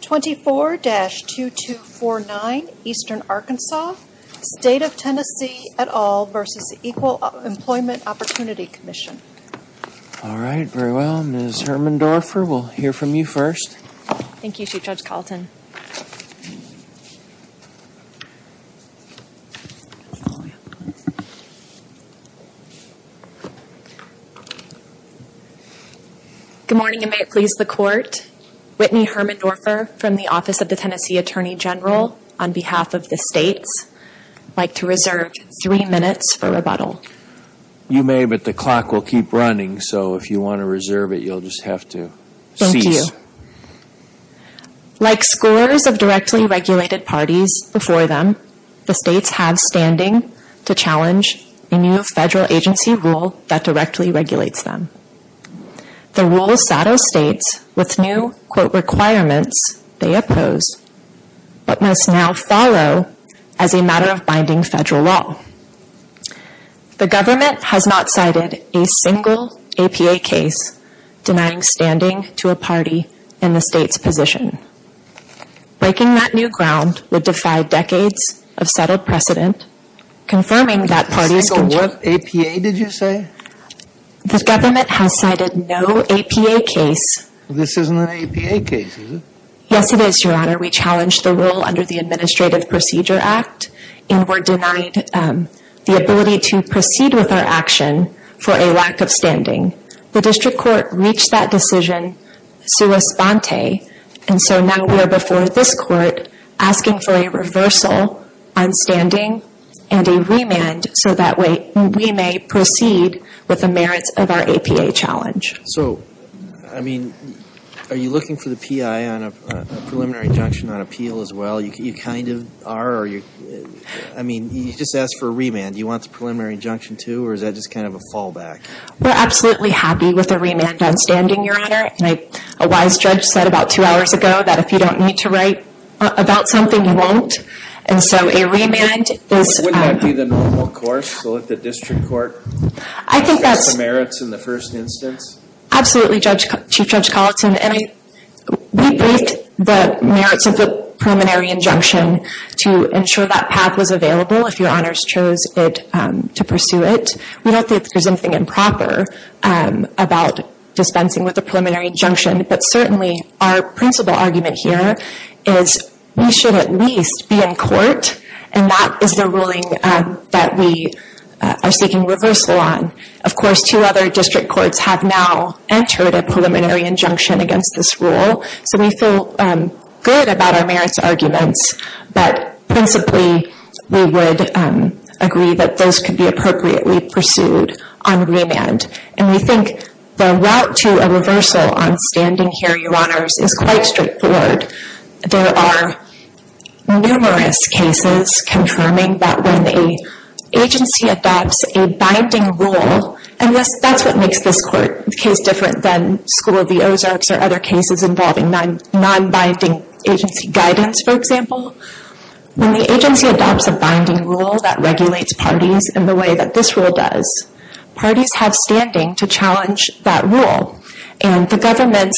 24-2249 Eastern Arkansas, State of Tennessee et al. v. Equal Employment Opportunity Commission All right, very well, Ms. Hermann-Dorfer, we'll hear from you first. Thank you, Chief Judge Carlton. Good morning, and may it please the Court, Whitney Hermann-Dorfer from the Office of the Tennessee Attorney General on behalf of the states would like to reserve three minutes for rebuttal. You may, but the clock will keep running, so if you want to reserve it, you'll just have to cease. Like scores of directly regulated parties before them, the states have standing to challenge a new federal agency rule that directly regulates them. The rule's saddle states with new quote requirements they oppose, but must now follow as a matter of binding federal law. The government has not cited a single APA case denying standing to a party in the state's position. Breaking that new ground would defy decades of settled precedent, confirming that parties can- A single what? APA, did you say? The government has cited no APA case- This isn't an APA case, is it? Yes, it is, Your Honor. We challenged the rule under the Administrative Procedure Act and were denied the ability to proceed with our action for a lack of standing. The district court reached that decision sua sponte, and so now we are before this court asking for a reversal on standing and a remand so that way we may proceed with the merits of our APA challenge. So, I mean, are you looking for the PI on a preliminary injunction on appeal as well? You kind of are, or are you- I mean, you just asked for a remand. Do you want the preliminary injunction too, or is that just kind of a fallback? We're absolutely happy with a remand on standing, Your Honor. A wise judge said about two hours ago that if you don't need to write about something, you won't. And so a remand is- Wouldn't that be the normal course, so that the district court gets the merits in the first instance? Absolutely, Chief Judge Colleton, and we briefed the merits of the preliminary injunction to ensure that path was available if Your Honors chose to pursue it. We don't think there's anything improper about dispensing with a preliminary injunction, but certainly our principal argument here is we should at least be in court, and that is the ruling that we are seeking reversal on. Of course, two other district courts have now entered a preliminary injunction against this rule, so we feel good about our merits arguments, but principally we would agree that those could be appropriately pursued on remand. And we think the route to a reversal on standing here, Your Honors, is quite straightforward. There are numerous cases confirming that when an agency adopts a binding rule- and that's what makes this case different than School of the Ozarks or other cases involving non-binding agency guidance, for example- when the agency adopts a binding rule that regulates parties in the way that this rule does, parties have standing to challenge that rule, and the government's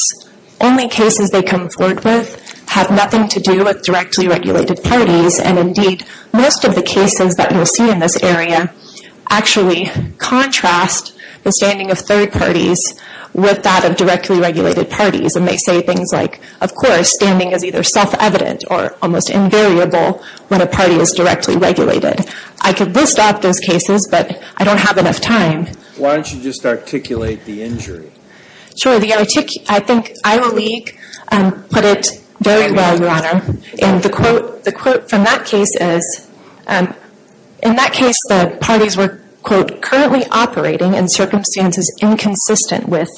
only cases they come forward with have nothing to do with directly regulated parties, and indeed most of the cases that you'll see in this area actually contrast the standing of third parties with that of directly regulated parties. And they say things like, of course, standing is either self-evident or almost invariable when a party is directly regulated. I could list off those cases, but I don't have enough time. Why don't you just articulate the injury? Sure. I think Iowa League put it very well, Your Honor. And the quote from that case is, in that case, the parties were, quote, currently operating in circumstances inconsistent with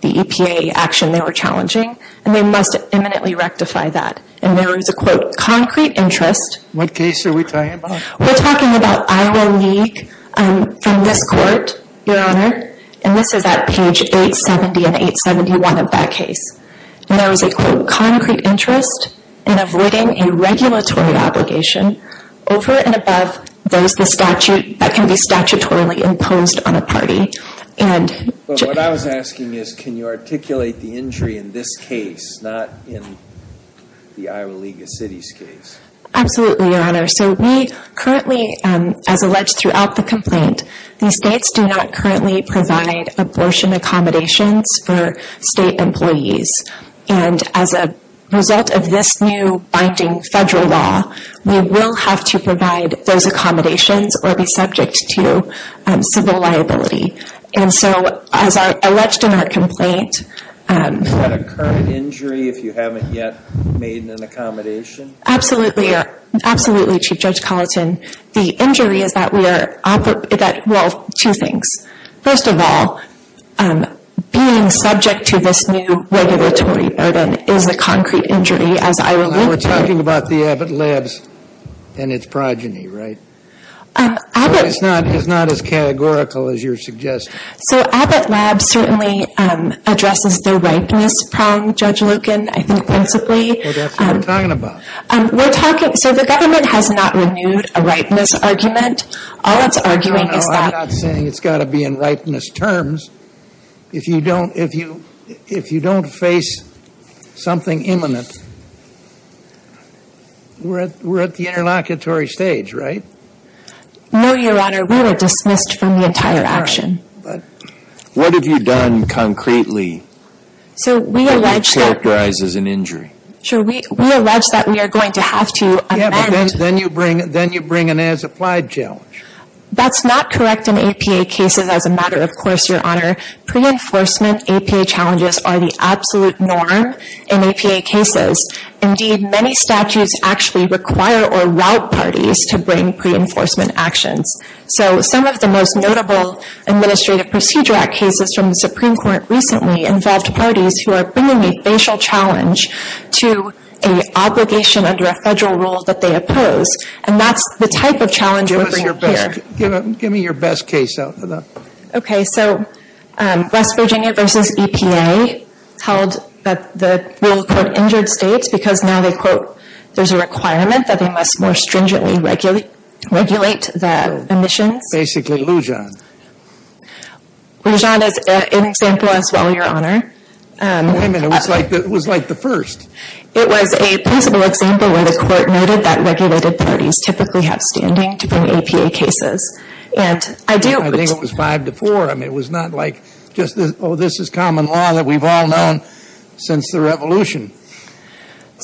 the EPA action they were challenging, and they must imminently rectify that. And there is a, quote, concrete interest. What case are we talking about? We're talking about Iowa League from this court, Your Honor, and this is at page 870 and 871 of that case. And there is a, quote, concrete interest in avoiding a regulatory obligation over and above those that can be statutorily imposed on a party. But what I was asking is, can you articulate the injury in this case, not in the Iowa League of Cities case? Absolutely, Your Honor. So we currently, as alleged throughout the complaint, these states do not currently provide abortion accommodations for state employees. And as a result of this new binding federal law, we will have to provide those accommodations or be subject to civil liability. And so, as alleged in our complaint... Is that a current injury if you haven't yet made an accommodation? Absolutely, absolutely, Chief Judge Colleton. The injury is that we are, well, two things. First of all, being subject to this new regulatory burden is a concrete injury, as Iowa League... We're talking about the Abbott Labs and its progeny, right? It's not as categorical as you're suggesting. So Abbott Labs certainly addresses the ripeness problem, Judge Lucan, I think principally. Well, that's what we're talking about. So the government has not renewed a ripeness argument. All it's arguing is that... No, I'm not saying it's got to be in ripeness terms. If you don't face something imminent, we're at the interlocutory stage, right? No, Your Honor. We were dismissed from the entire action. What have you done concretely that characterizes an injury? Sure, we allege that we are going to have to amend... Yeah, but then you bring an as-applied challenge. That's not correct in APA cases as a matter of course, Your Honor. Pre-enforcement APA challenges are the absolute norm in APA cases. Indeed, many statutes actually require or route parties to bring pre-enforcement actions. So some of the most notable Administrative Procedure Act cases from the Supreme Court recently involved parties who are bringing a facial challenge to an obligation under a federal rule that they oppose. And that's the type of challenge we're bringing here. Give me your best case. Okay, so West Virginia v. EPA held that the rule, quote, Basically Lujan. Lujan is an example as well, Your Honor. Wait a minute, it was like the first. It was a principle example where the court noted that regulated parties typically have standing to bring APA cases. I think it was five to four. I mean, it was not like just, oh, this is common law that we've all known since the Revolution.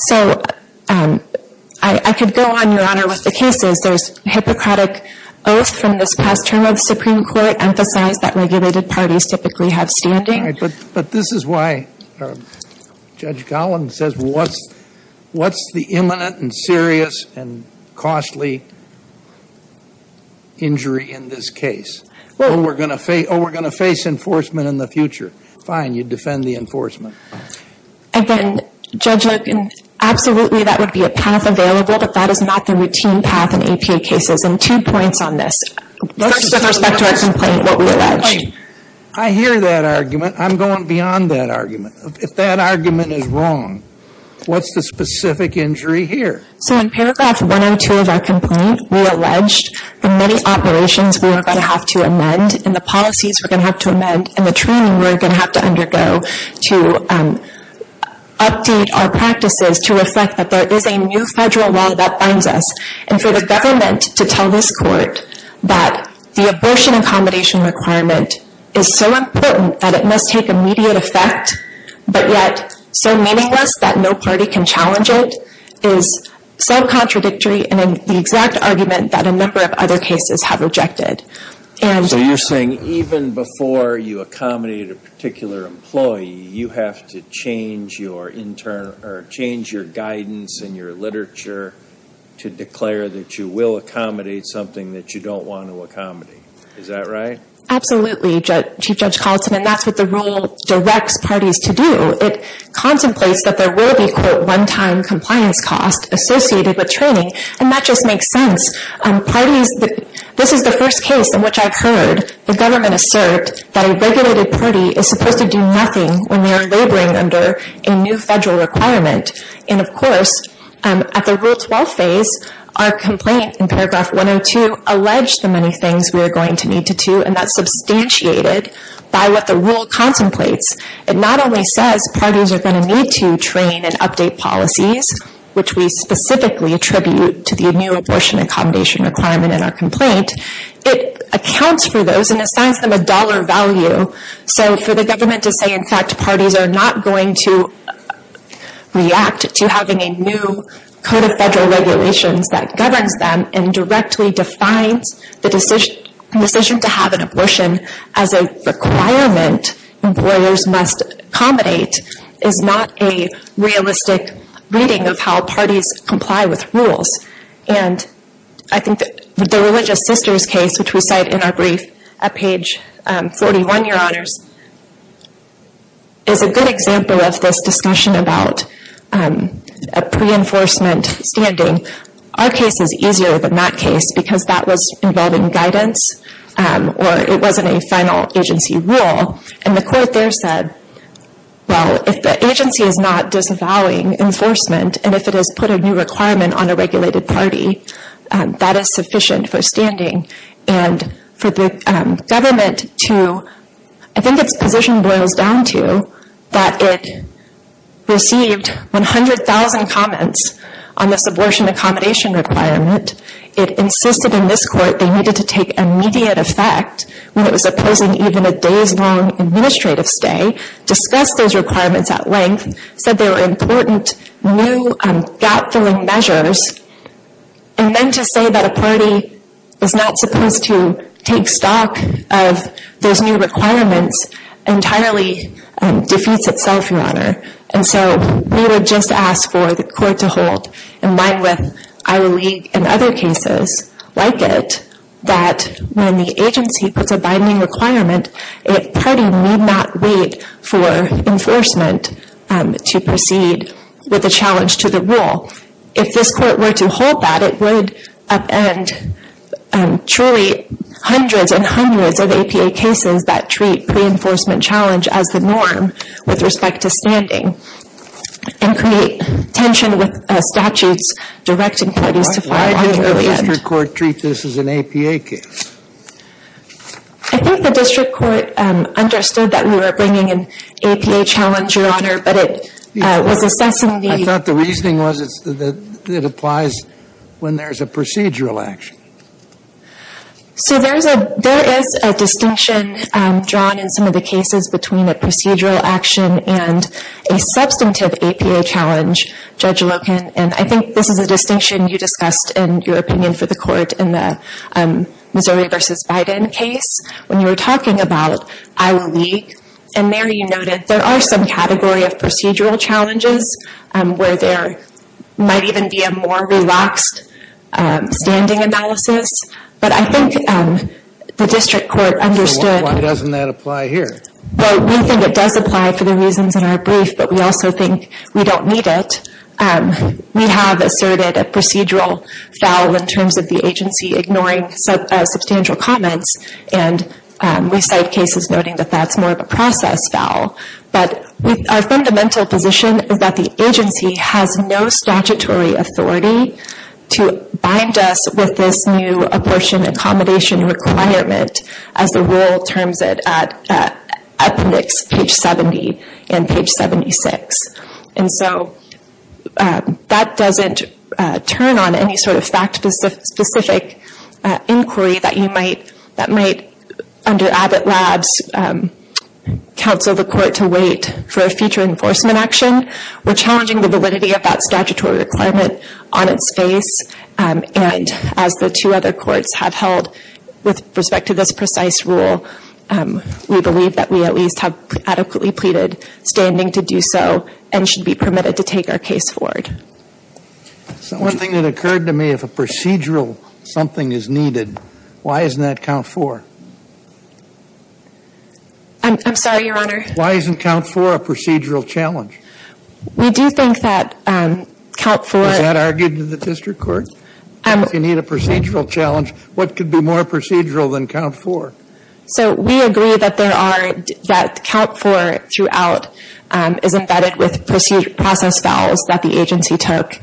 So I could go on, Your Honor, with the cases. There's Hippocratic Oath from this past term of the Supreme Court emphasized that regulated parties typically have standing. But this is why Judge Gollin says what's the imminent and serious and costly injury in this case? Oh, we're going to face enforcement in the future. Fine, you defend the enforcement. Again, Judge Logan, absolutely that would be a path available, but that is not the routine path in APA cases. And two points on this. First, with respect to our complaint, what we alleged. I hear that argument. I'm going beyond that argument. If that argument is wrong, what's the specific injury here? So in paragraph 102 of our complaint, we alleged the many operations we are going to have to amend and the policies we're going to have to amend and the training we're going to have to undergo to update our practices to reflect that there is a new federal law that binds us. And for the government to tell this Court that the abortion accommodation requirement is so important that it must take immediate effect but yet so meaningless that no party can challenge it is self-contradictory in the exact argument that a number of other cases have rejected. So you're saying even before you accommodate a particular employee, you have to change your guidance in your literature to declare that you will accommodate something that you don't want to accommodate. Is that right? Absolutely, Chief Judge Collinson, and that's what the rule directs parties to do. It contemplates that there will be, quote, one-time compliance costs associated with training. And that just makes sense. This is the first case in which I've heard the government assert that a regulated party is supposed to do nothing when they are laboring under a new federal requirement. And of course, at the Rule 12 phase, our complaint in paragraph 102 alleged the many things we are going to need to do, and that's substantiated by what the rule contemplates. It not only says parties are going to need to train and update policies, which we specifically attribute to the new abortion accommodation requirement in our complaint, it accounts for those and assigns them a dollar value. So for the government to say, in fact, parties are not going to react to having a new code of federal regulations that governs them and directly defines the decision to have an abortion as a requirement employers must accommodate is not a realistic reading of how parties comply with rules. And I think the Religious Sisters case, which we cite in our brief at page 41, Your Honors, is a good example of this discussion about a pre-enforcement standing. Our case is easier than that case because that was involving guidance or it wasn't a final agency rule. And the court there said, well, if the agency is not disavowing enforcement and if it has put a new requirement on a regulated party, that is sufficient for standing. And for the government to, I think its position boils down to that it received 100,000 comments on this abortion accommodation requirement. It insisted in this court they needed to take immediate effect when it was opposing even a day's long administrative stay, discuss those requirements at length, said there were important new gap-filling measures, and then to say that a party is not supposed to take stock of those new requirements entirely defeats itself, Your Honor. And so we would just ask for the court to hold, in line with Iowa League and other cases like it, that when the agency puts a binding requirement, a party need not wait for enforcement to proceed with a challenge to the rule. If this court were to hold that, it would upend truly hundreds and hundreds of APA cases that treat pre-enforcement challenge as the norm with respect to standing and create tension with statutes directing parties to file an argument. Why did the district court treat this as an APA case? I think the district court understood that we were bringing an APA challenge, Your Honor, but it was assessing the- I thought the reasoning was that it applies when there's a procedural action. So there is a distinction drawn in some of the cases between a procedural action and a substantive APA challenge, Judge Loken, and I think this is a distinction you discussed in your opinion for the court in the Missouri v. Biden case when you were talking about Iowa League, and there you noted there are some category of procedural challenges where there might even be a more relaxed standing analysis. But I think the district court understood- So why doesn't that apply here? Well, we think it does apply for the reasons in our brief, but we also think we don't need it. We have asserted a procedural foul in terms of the agency ignoring substantial comments, and we cite cases noting that that's more of a process foul. But our fundamental position is that the agency has no statutory authority to bind us with this new abortion accommodation requirement as the rule terms it at appendix page 70 and page 76. And so that doesn't turn on any sort of fact-specific inquiry that might, under Abbott Labs, counsel the court to wait for a future enforcement action. We're challenging the validity of that statutory requirement on its face, and as the two other courts have held with respect to this precise rule, we believe that we at least have adequately pleaded standing to do so and should be permitted to take our case forward. So one thing that occurred to me, if a procedural something is needed, why isn't that count four? I'm sorry, Your Honor. Why isn't count four a procedural challenge? We do think that count four- Was that argued in the district court? If you need a procedural challenge, what could be more procedural than count four? So we agree that count four, throughout, is embedded with process fouls that the agency took.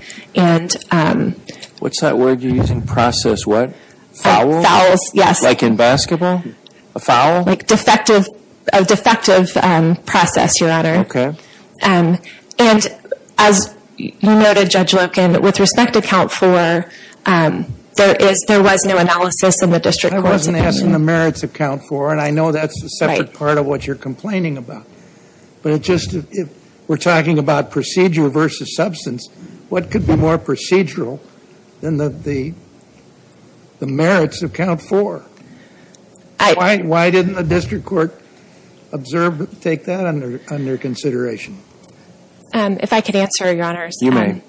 What's that word you're using? Process what? Fouls? Fouls, yes. Like in basketball? A foul? A defective process, Your Honor. Okay. And as you noted, Judge Loken, with respect to count four, there was no analysis in the district courts- I wasn't asking the merits of count four, and I know that's a separate part of what you're complaining about. But it just, if we're talking about procedure versus substance, what could be more procedural than the merits of count four? Why didn't the district court observe, take that under consideration? If I could answer, Your Honors. You may.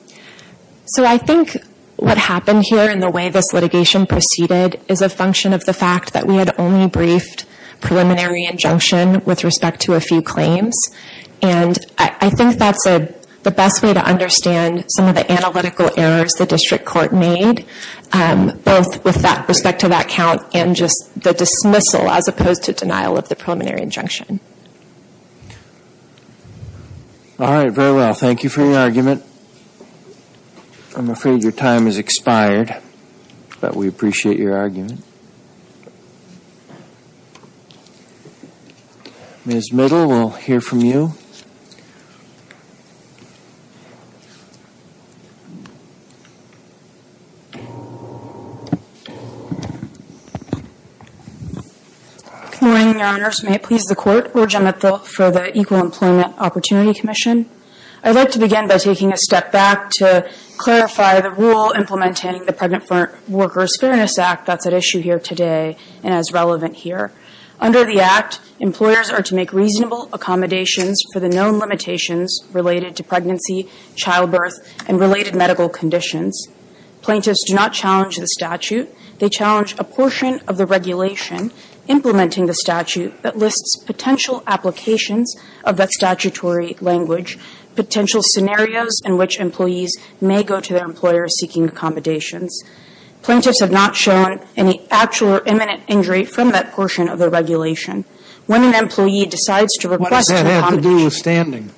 So I think what happened here and the way this litigation proceeded is a function of the fact that we had only briefed preliminary injunction with respect to a few claims. And I think that's the best way to understand some of the analytical errors the district court made, both with respect to that count and just the dismissal as opposed to denial of the preliminary injunction. All right. Very well. Thank you for your argument. I'm afraid your time has expired, but we appreciate your argument. Ms. Middle, we'll hear from you. Good morning, Your Honors. May it please the Court, we're Gemma Thill for the Equal Employment Opportunity Commission. I'd like to begin by taking a step back to clarify the rule implementing the Pregnant Workers' Fairness Act that's at issue here today and is relevant here. Under the Act, employers are to make reasonable accommodations for the known limitations related to pregnancy, childbirth, and related medical conditions. Plaintiffs do not challenge the statute. They challenge a portion of the regulation implementing the statute that lists potential applications of that statutory language, potential scenarios in which employees may go to their employers seeking accommodations. Plaintiffs have not shown any actual or imminent injury from that portion of the regulation. When an employee decides to request an accommodation. What does that have to do with standing?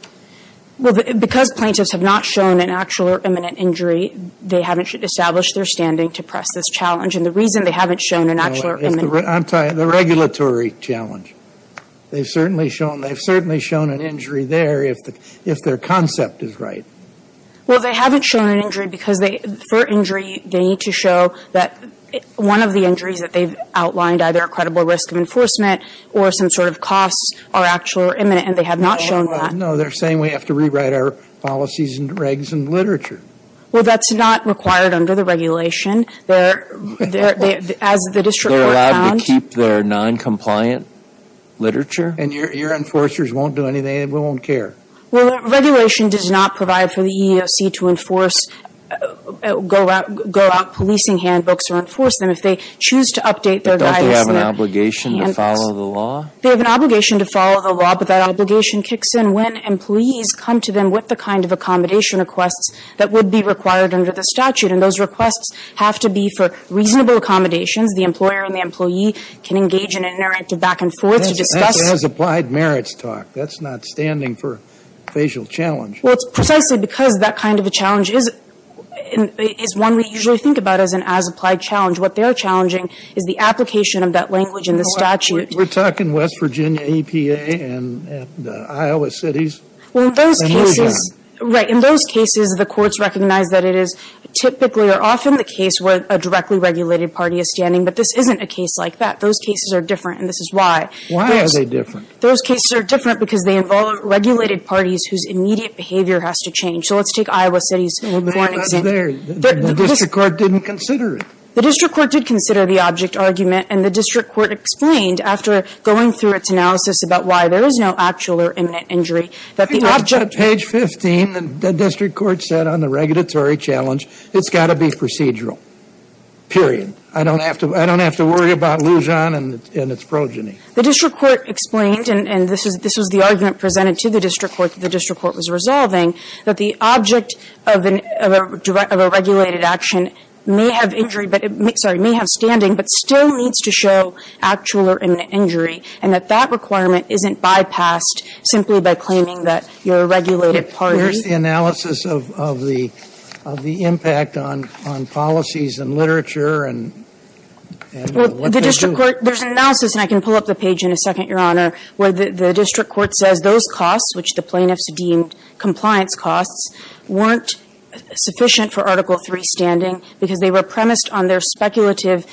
Well, because plaintiffs have not shown an actual or imminent injury, they haven't established their standing to press this challenge. And the reason they haven't shown an actual or imminent. I'm tired. The regulatory challenge. They've certainly shown an injury there if their concept is right. Well, they haven't shown an injury because they, for injury, they need to show that one of the injuries that they've outlined, either a credible risk of enforcement or some sort of costs are actual or imminent, and they have not shown that. No, they're saying we have to rewrite our policies and regs and literature. Well, that's not required under the regulation. They're, as the district court found. They're allowed to keep their noncompliant literature? And your enforcers won't do anything, and we won't care. Well, regulation does not provide for the EEOC to enforce, go out policing handbooks or enforce them. If they choose to update their guidance. But don't they have an obligation to follow the law? They have an obligation to follow the law, but that obligation kicks in when employees come to them with the kind of accommodation requests that would be required under the statute. And those requests have to be for reasonable accommodations. The employer and the employee can engage in an interactive back and forth to discuss. That has applied merits talk. That's not standing for facial challenge. Well, it's precisely because that kind of a challenge is one we usually think about as an as-applied challenge. What they are challenging is the application of that language in the statute. We're talking West Virginia EPA and Iowa cities. Well, in those cases, right, in those cases, the courts recognize that it is typically or often the case where a directly regulated party is standing. But this isn't a case like that. Those cases are different, and this is why. Why are they different? Those cases are different because they involve regulated parties whose immediate behavior has to change. So let's take Iowa cities for an example. The district court didn't consider it. The district court did consider the object argument, and the district court explained after going through its analysis about why there is no actual or imminent injury that the object On page 15, the district court said on the regulatory challenge, it's got to be procedural, period. I don't have to worry about Lujan and its progeny. The district court explained, and this was the argument presented to the district court that the district court was resolving, that the object of a regulated action may have injury, sorry, may have standing, but still needs to show actual or imminent injury, and that that requirement isn't bypassed simply by claiming that you're a regulated party. Where's the analysis of the impact on policies and literature and what they do? There's an analysis, and I can pull up the page in a second, Your Honor, where the district court says those costs, which the plaintiffs deemed compliance costs, weren't sufficient for Article III standing because they were premised on their speculative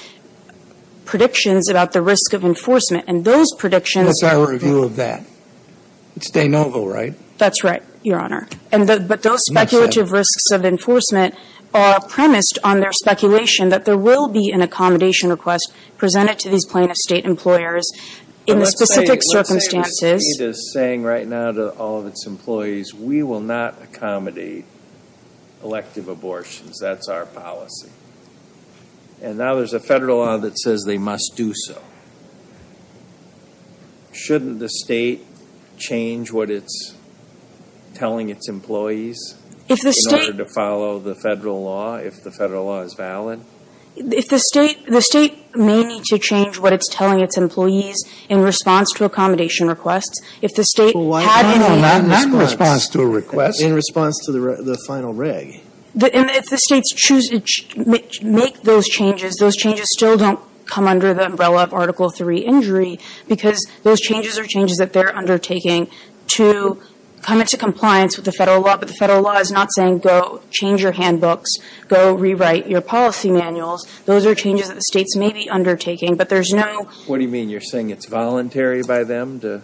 predictions about the risk of enforcement, and those predictions What's our review of that? It's de novo, right? That's right, Your Honor. But those speculative risks of enforcement are premised on their speculation that there will be an accommodation request presented to these plaintiff state employers in the specific circumstances. But let's say what we need is saying right now to all of its employees, we will not accommodate elective abortions. That's our policy. And now there's a federal law that says they must do so. Shouldn't the state change what it's telling its employees in order to follow the federal law if the federal law is valid? If the state may need to change what it's telling its employees in response to accommodation requests, if the state had any No, not in response to a request. In response to the final reg. And if the states choose to make those changes, those changes still don't come under the umbrella of Article III injury because those changes are changes that they're undertaking to come into compliance with the federal law. But the federal law is not saying go change your handbooks, go rewrite your policy manuals. Those are changes that the states may be undertaking. But there's no What do you mean? You're saying it's voluntary by them to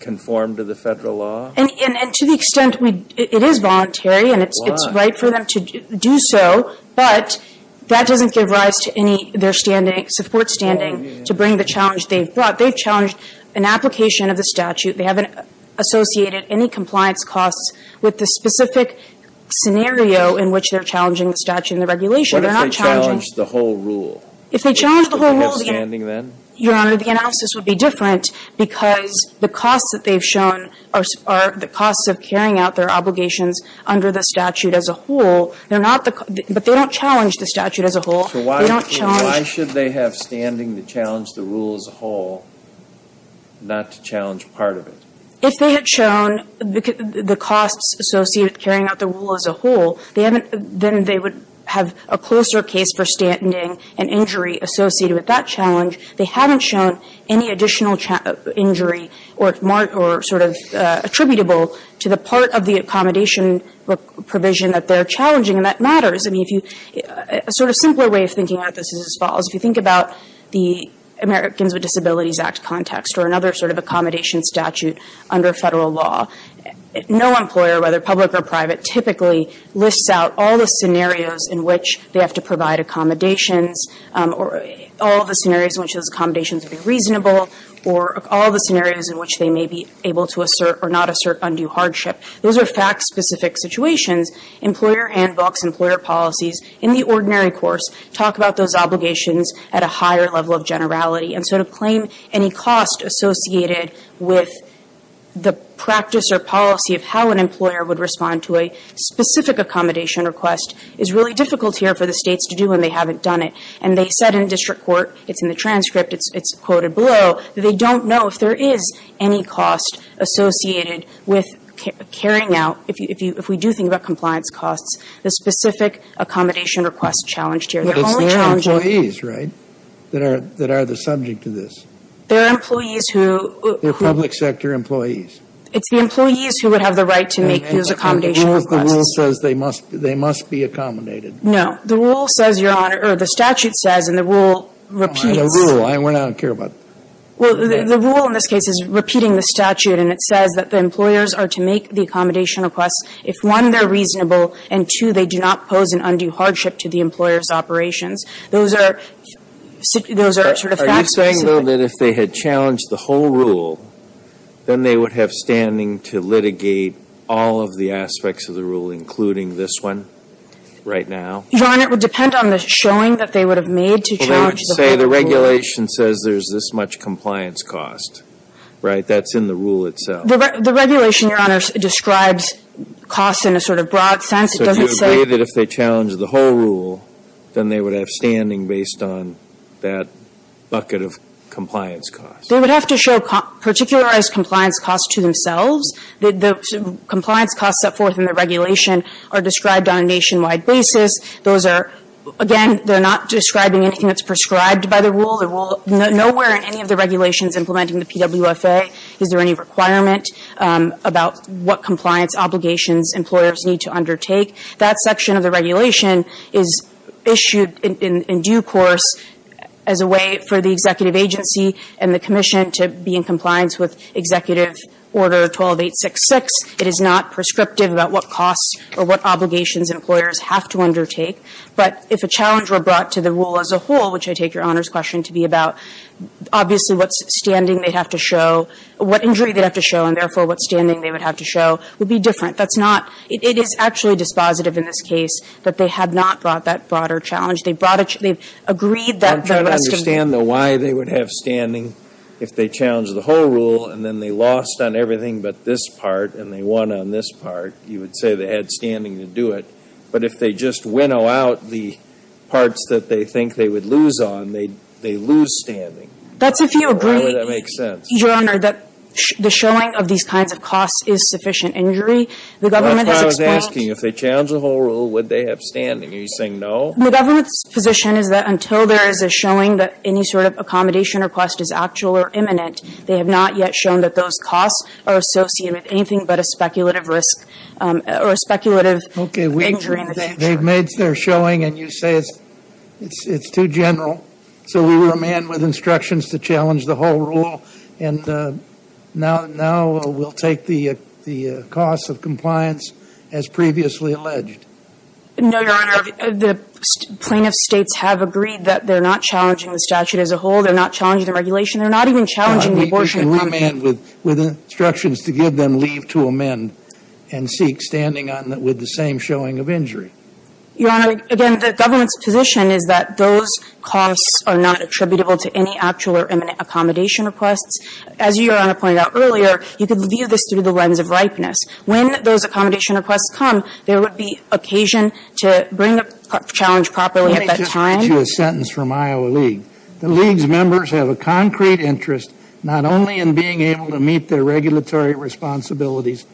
conform to the federal law? And to the extent it is voluntary and it's right for them to do so, but that doesn't give rise to any support standing to bring the challenge they've brought. They've challenged an application of the statute. They haven't associated any compliance costs with the specific scenario in which they're challenging the statute and the regulation. They're not challenging What if they challenge the whole rule? If they challenge the whole rule Would they have standing then? Your Honor, the analysis would be different because the costs that they've shown are the costs of carrying out their obligations under the statute as a whole. They're not the But they don't challenge the statute as a whole. They don't challenge Why should they have standing to challenge the rule as a whole, not to challenge part of it? If they had shown the costs associated with carrying out the rule as a whole, then they would have a closer case for standing and injury associated with that challenge. They haven't shown any additional injury or sort of attributable to the part of the accommodation provision that they're challenging, and that matters. A sort of simpler way of thinking about this is as follows. If you think about the Americans with Disabilities Act context or another sort of accommodation statute under federal law, no employer, whether public or private, typically lists out all the scenarios in which they have to provide accommodations or all the scenarios in which those accommodations would be reasonable or all the scenarios in which they may be able to assert or not assert undue hardship. Those are fact-specific situations. Employer handbooks, employer policies in the ordinary course talk about those obligations at a higher level of generality. And so to claim any cost associated with the practice or policy of how an employer would respond to a specific accommodation request is really difficult here for the states to do when they haven't done it. And they said in district court, it's in the transcript, it's quoted below, that they don't know if there is any cost associated with carrying out, if we do think about compliance costs, the specific accommodation request challenged here. They're only challenging. But it's their employees, right, that are the subject of this? They're employees who. They're public sector employees. It's the employees who would have the right to make those accommodation requests. And the rule says they must be accommodated. No. The rule says, Your Honor, or the statute says, and the rule repeats. The rule. I don't care about that. Well, the rule in this case is repeating the statute, and it says that the employers are to make the accommodation request if, one, they're reasonable, and, two, they do not pose an undue hardship to the employer's operations. Those are sort of facts. Are you saying, though, that if they had challenged the whole rule, then they would have standing to litigate all of the aspects of the rule, including this one right now? Your Honor, it would depend on the showing that they would have made to challenge the whole rule. The regulation says there's this much compliance cost, right? That's in the rule itself. The regulation, Your Honor, describes costs in a sort of broad sense. It doesn't say that if they challenge the whole rule, then they would have standing based on that bucket of compliance costs. They would have to show particularized compliance costs to themselves. The compliance costs set forth in the regulation are described on a nationwide basis. Those are, again, they're not describing anything that's prescribed by the rule. Nowhere in any of the regulations implementing the PWFA is there any requirement about what compliance obligations employers need to undertake. That section of the regulation is issued in due course as a way for the executive agency and the commission to be in compliance with Executive Order 12866. It is not prescriptive about what costs or what obligations employers have to undertake. But if a challenge were brought to the rule as a whole, which I take Your Honor's question to be about, obviously what standing they'd have to show, what injury they'd have to show, and therefore what standing they would have to show, would be different. That's not – it is actually dispositive in this case that they had not brought that broader challenge. They brought a – they agreed that the rest of the – I'm trying to understand, though, why they would have standing if they challenged the whole rule and then they lost on everything but this part and they won on this part. You would say they had standing to do it. But if they just winnow out the parts that they think they would lose on, they lose standing. Why would that make sense? That's if you agree, Your Honor, that the showing of these kinds of costs is sufficient injury. The government has explained – That's what I was asking. If they challenged the whole rule, would they have standing? Are you saying no? The government's position is that until there is a showing that any sort of accommodation request is actual or imminent, they have not yet shown that those costs are associated with anything but a speculative risk or a speculative injury in the future. They've made their showing and you say it's too general. So we were a man with instructions to challenge the whole rule and now we'll take the cost of compliance as previously alleged. No, Your Honor. The plaintiffs' states have agreed that they're not challenging the statute as a challenge to regulation. They're not even challenging the abortion agreement. But we can come in with instructions to give them leave to amend and seek standing on it with the same showing of injury. Your Honor, again, the government's position is that those costs are not attributable to any actual or imminent accommodation requests. As Your Honor pointed out earlier, you can view this through the lens of ripeness. When those accommodation requests come, there would be occasion to bring a challenge properly at that time. Let me just read you a sentence from Iowa League. The League's members have a concrete interest not only in being able to meet their regulatory responsibilities,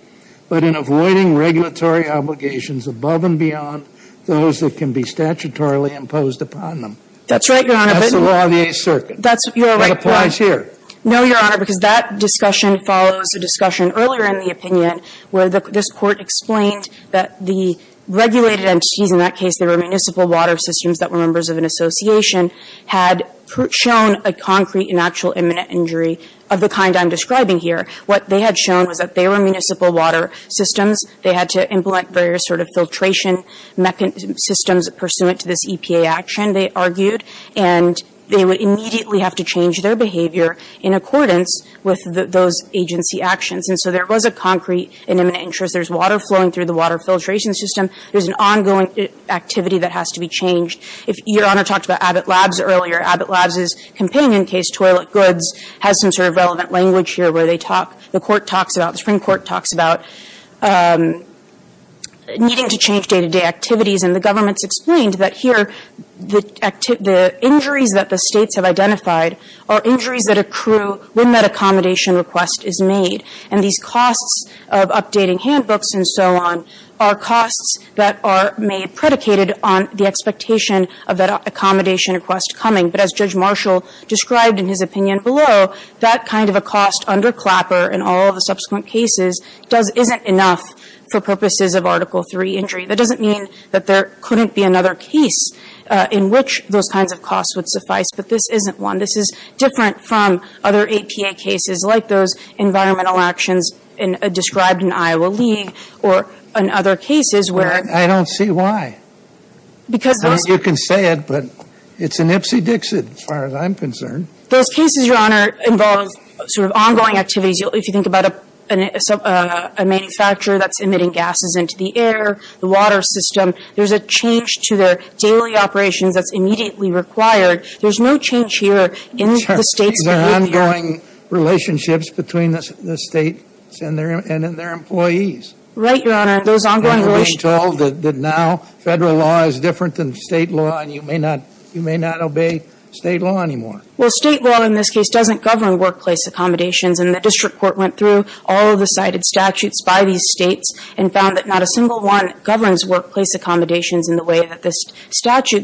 but in avoiding regulatory obligations above and beyond those that can be statutorily imposed upon them. That's right, Your Honor. That's the law of the Eighth Circuit. That's right. It applies here. No, Your Honor, because that discussion follows a discussion earlier in the opinion where this Court explained that the regulated entities, in that case they were municipal water systems that were members of an association, had shown a concrete and actual imminent injury of the kind I'm describing here. What they had shown was that they were municipal water systems. They had to implement various sort of filtration systems pursuant to this EPA action, they argued, and they would immediately have to change their behavior in accordance with those agency actions. And so there was a concrete and imminent interest. There's water flowing through the water filtration system. There's an ongoing activity that has to be changed. Your Honor talked about Abbott Labs earlier. Abbott Labs' companion case, Toilet Goods, has some sort of relevant language here where they talk, the Court talks about, the Supreme Court talks about needing to change day-to-day activities. And the government's explained that here the injuries that the States have identified are injuries that accrue when that accommodation request is made. And these costs of updating handbooks and so on are costs that are made predicated on the expectation of that accommodation request coming. But as Judge Marshall described in his opinion below, that kind of a cost under Clapper in all of the subsequent cases doesn't, isn't enough for purposes of Article III injury. That doesn't mean that there couldn't be another case in which those kinds of costs would suffice, but this isn't one. This is different from other APA cases like those environmental actions described in Iowa League or in other cases where and other cases where. I don't see why. Because those. I don't know if you can say it, but it's an Ipsy Dixit as far as I'm concerned. Those cases, Your Honor, involve sort of ongoing activities. If you think about a manufacturer that's emitting gases into the air, the water system, there's a change to their daily operations that's immediately required. There's no change here in the State's behavior. These are ongoing relationships between the States and their employees. Right, Your Honor. Those ongoing relationships. And you're being told that now Federal law is different than State law and you may not obey State law anymore. Well, State law in this case doesn't govern workplace accommodations. And the district court went through all of the cited statutes by these States and found that not a single one governs workplace accommodations in the way that this statute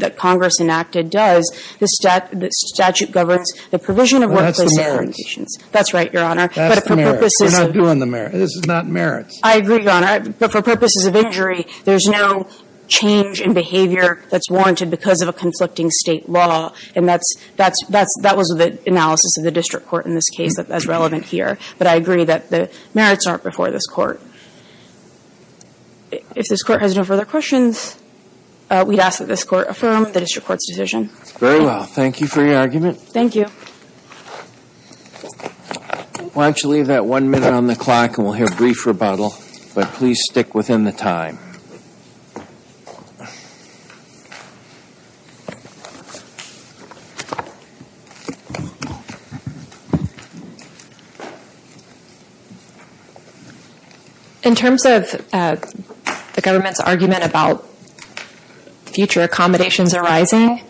governs the provision of workplace accommodations. That's right, Your Honor. That's the merits. We're not doing the merits. This is not merits. I agree, Your Honor. But for purposes of injury, there's no change in behavior that's warranted because of a conflicting State law. And that's, that's, that was the analysis of the district court in this case that's relevant here. But I agree that the merits aren't before this Court. If this Court has no further questions, we'd ask that this Court affirm the district court's decision. Very well. Thank you for your argument. Thank you. Why don't you leave that one minute on the clock and we'll hear a brief rebuttal. But please stick within the time. In terms of the government's argument about future accommodations arising,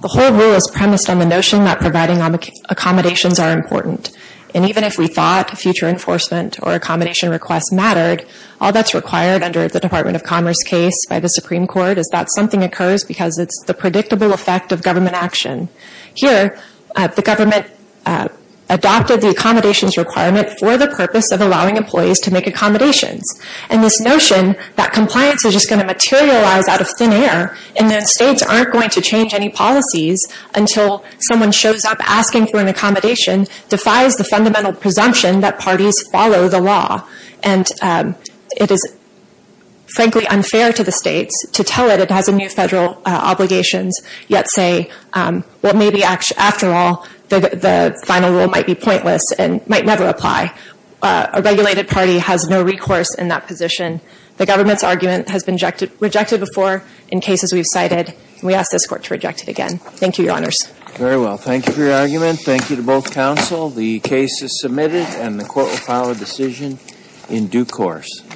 the whole rule is premised on the notion that providing accommodations are important. And even if we thought future enforcement or accommodation requests mattered, all that's required under the Department of Commerce case by the Supreme Court is that something occurs because it's the predictable effect of government action. Here, the government adopted the accommodations requirement for the purpose of allowing employees to make accommodations. And this notion that compliance is just going to materialize out of thin air and that States aren't going to change any policies until someone shows up asking for an accommodation defies the fundamental presumption that parties follow the law. And it is, frankly, unfair to the States to tell it it has a new Federal obligation yet say, well, maybe after all, the final rule might be pointless and might never apply. A regulated party has no recourse in that position. The government's argument has been rejected before in cases we've cited. We ask this Court to reject it again. Thank you, Your Honors. Very well. Thank you for your argument. Thank you to both counsel. The case is submitted and the Court will file a decision in due course.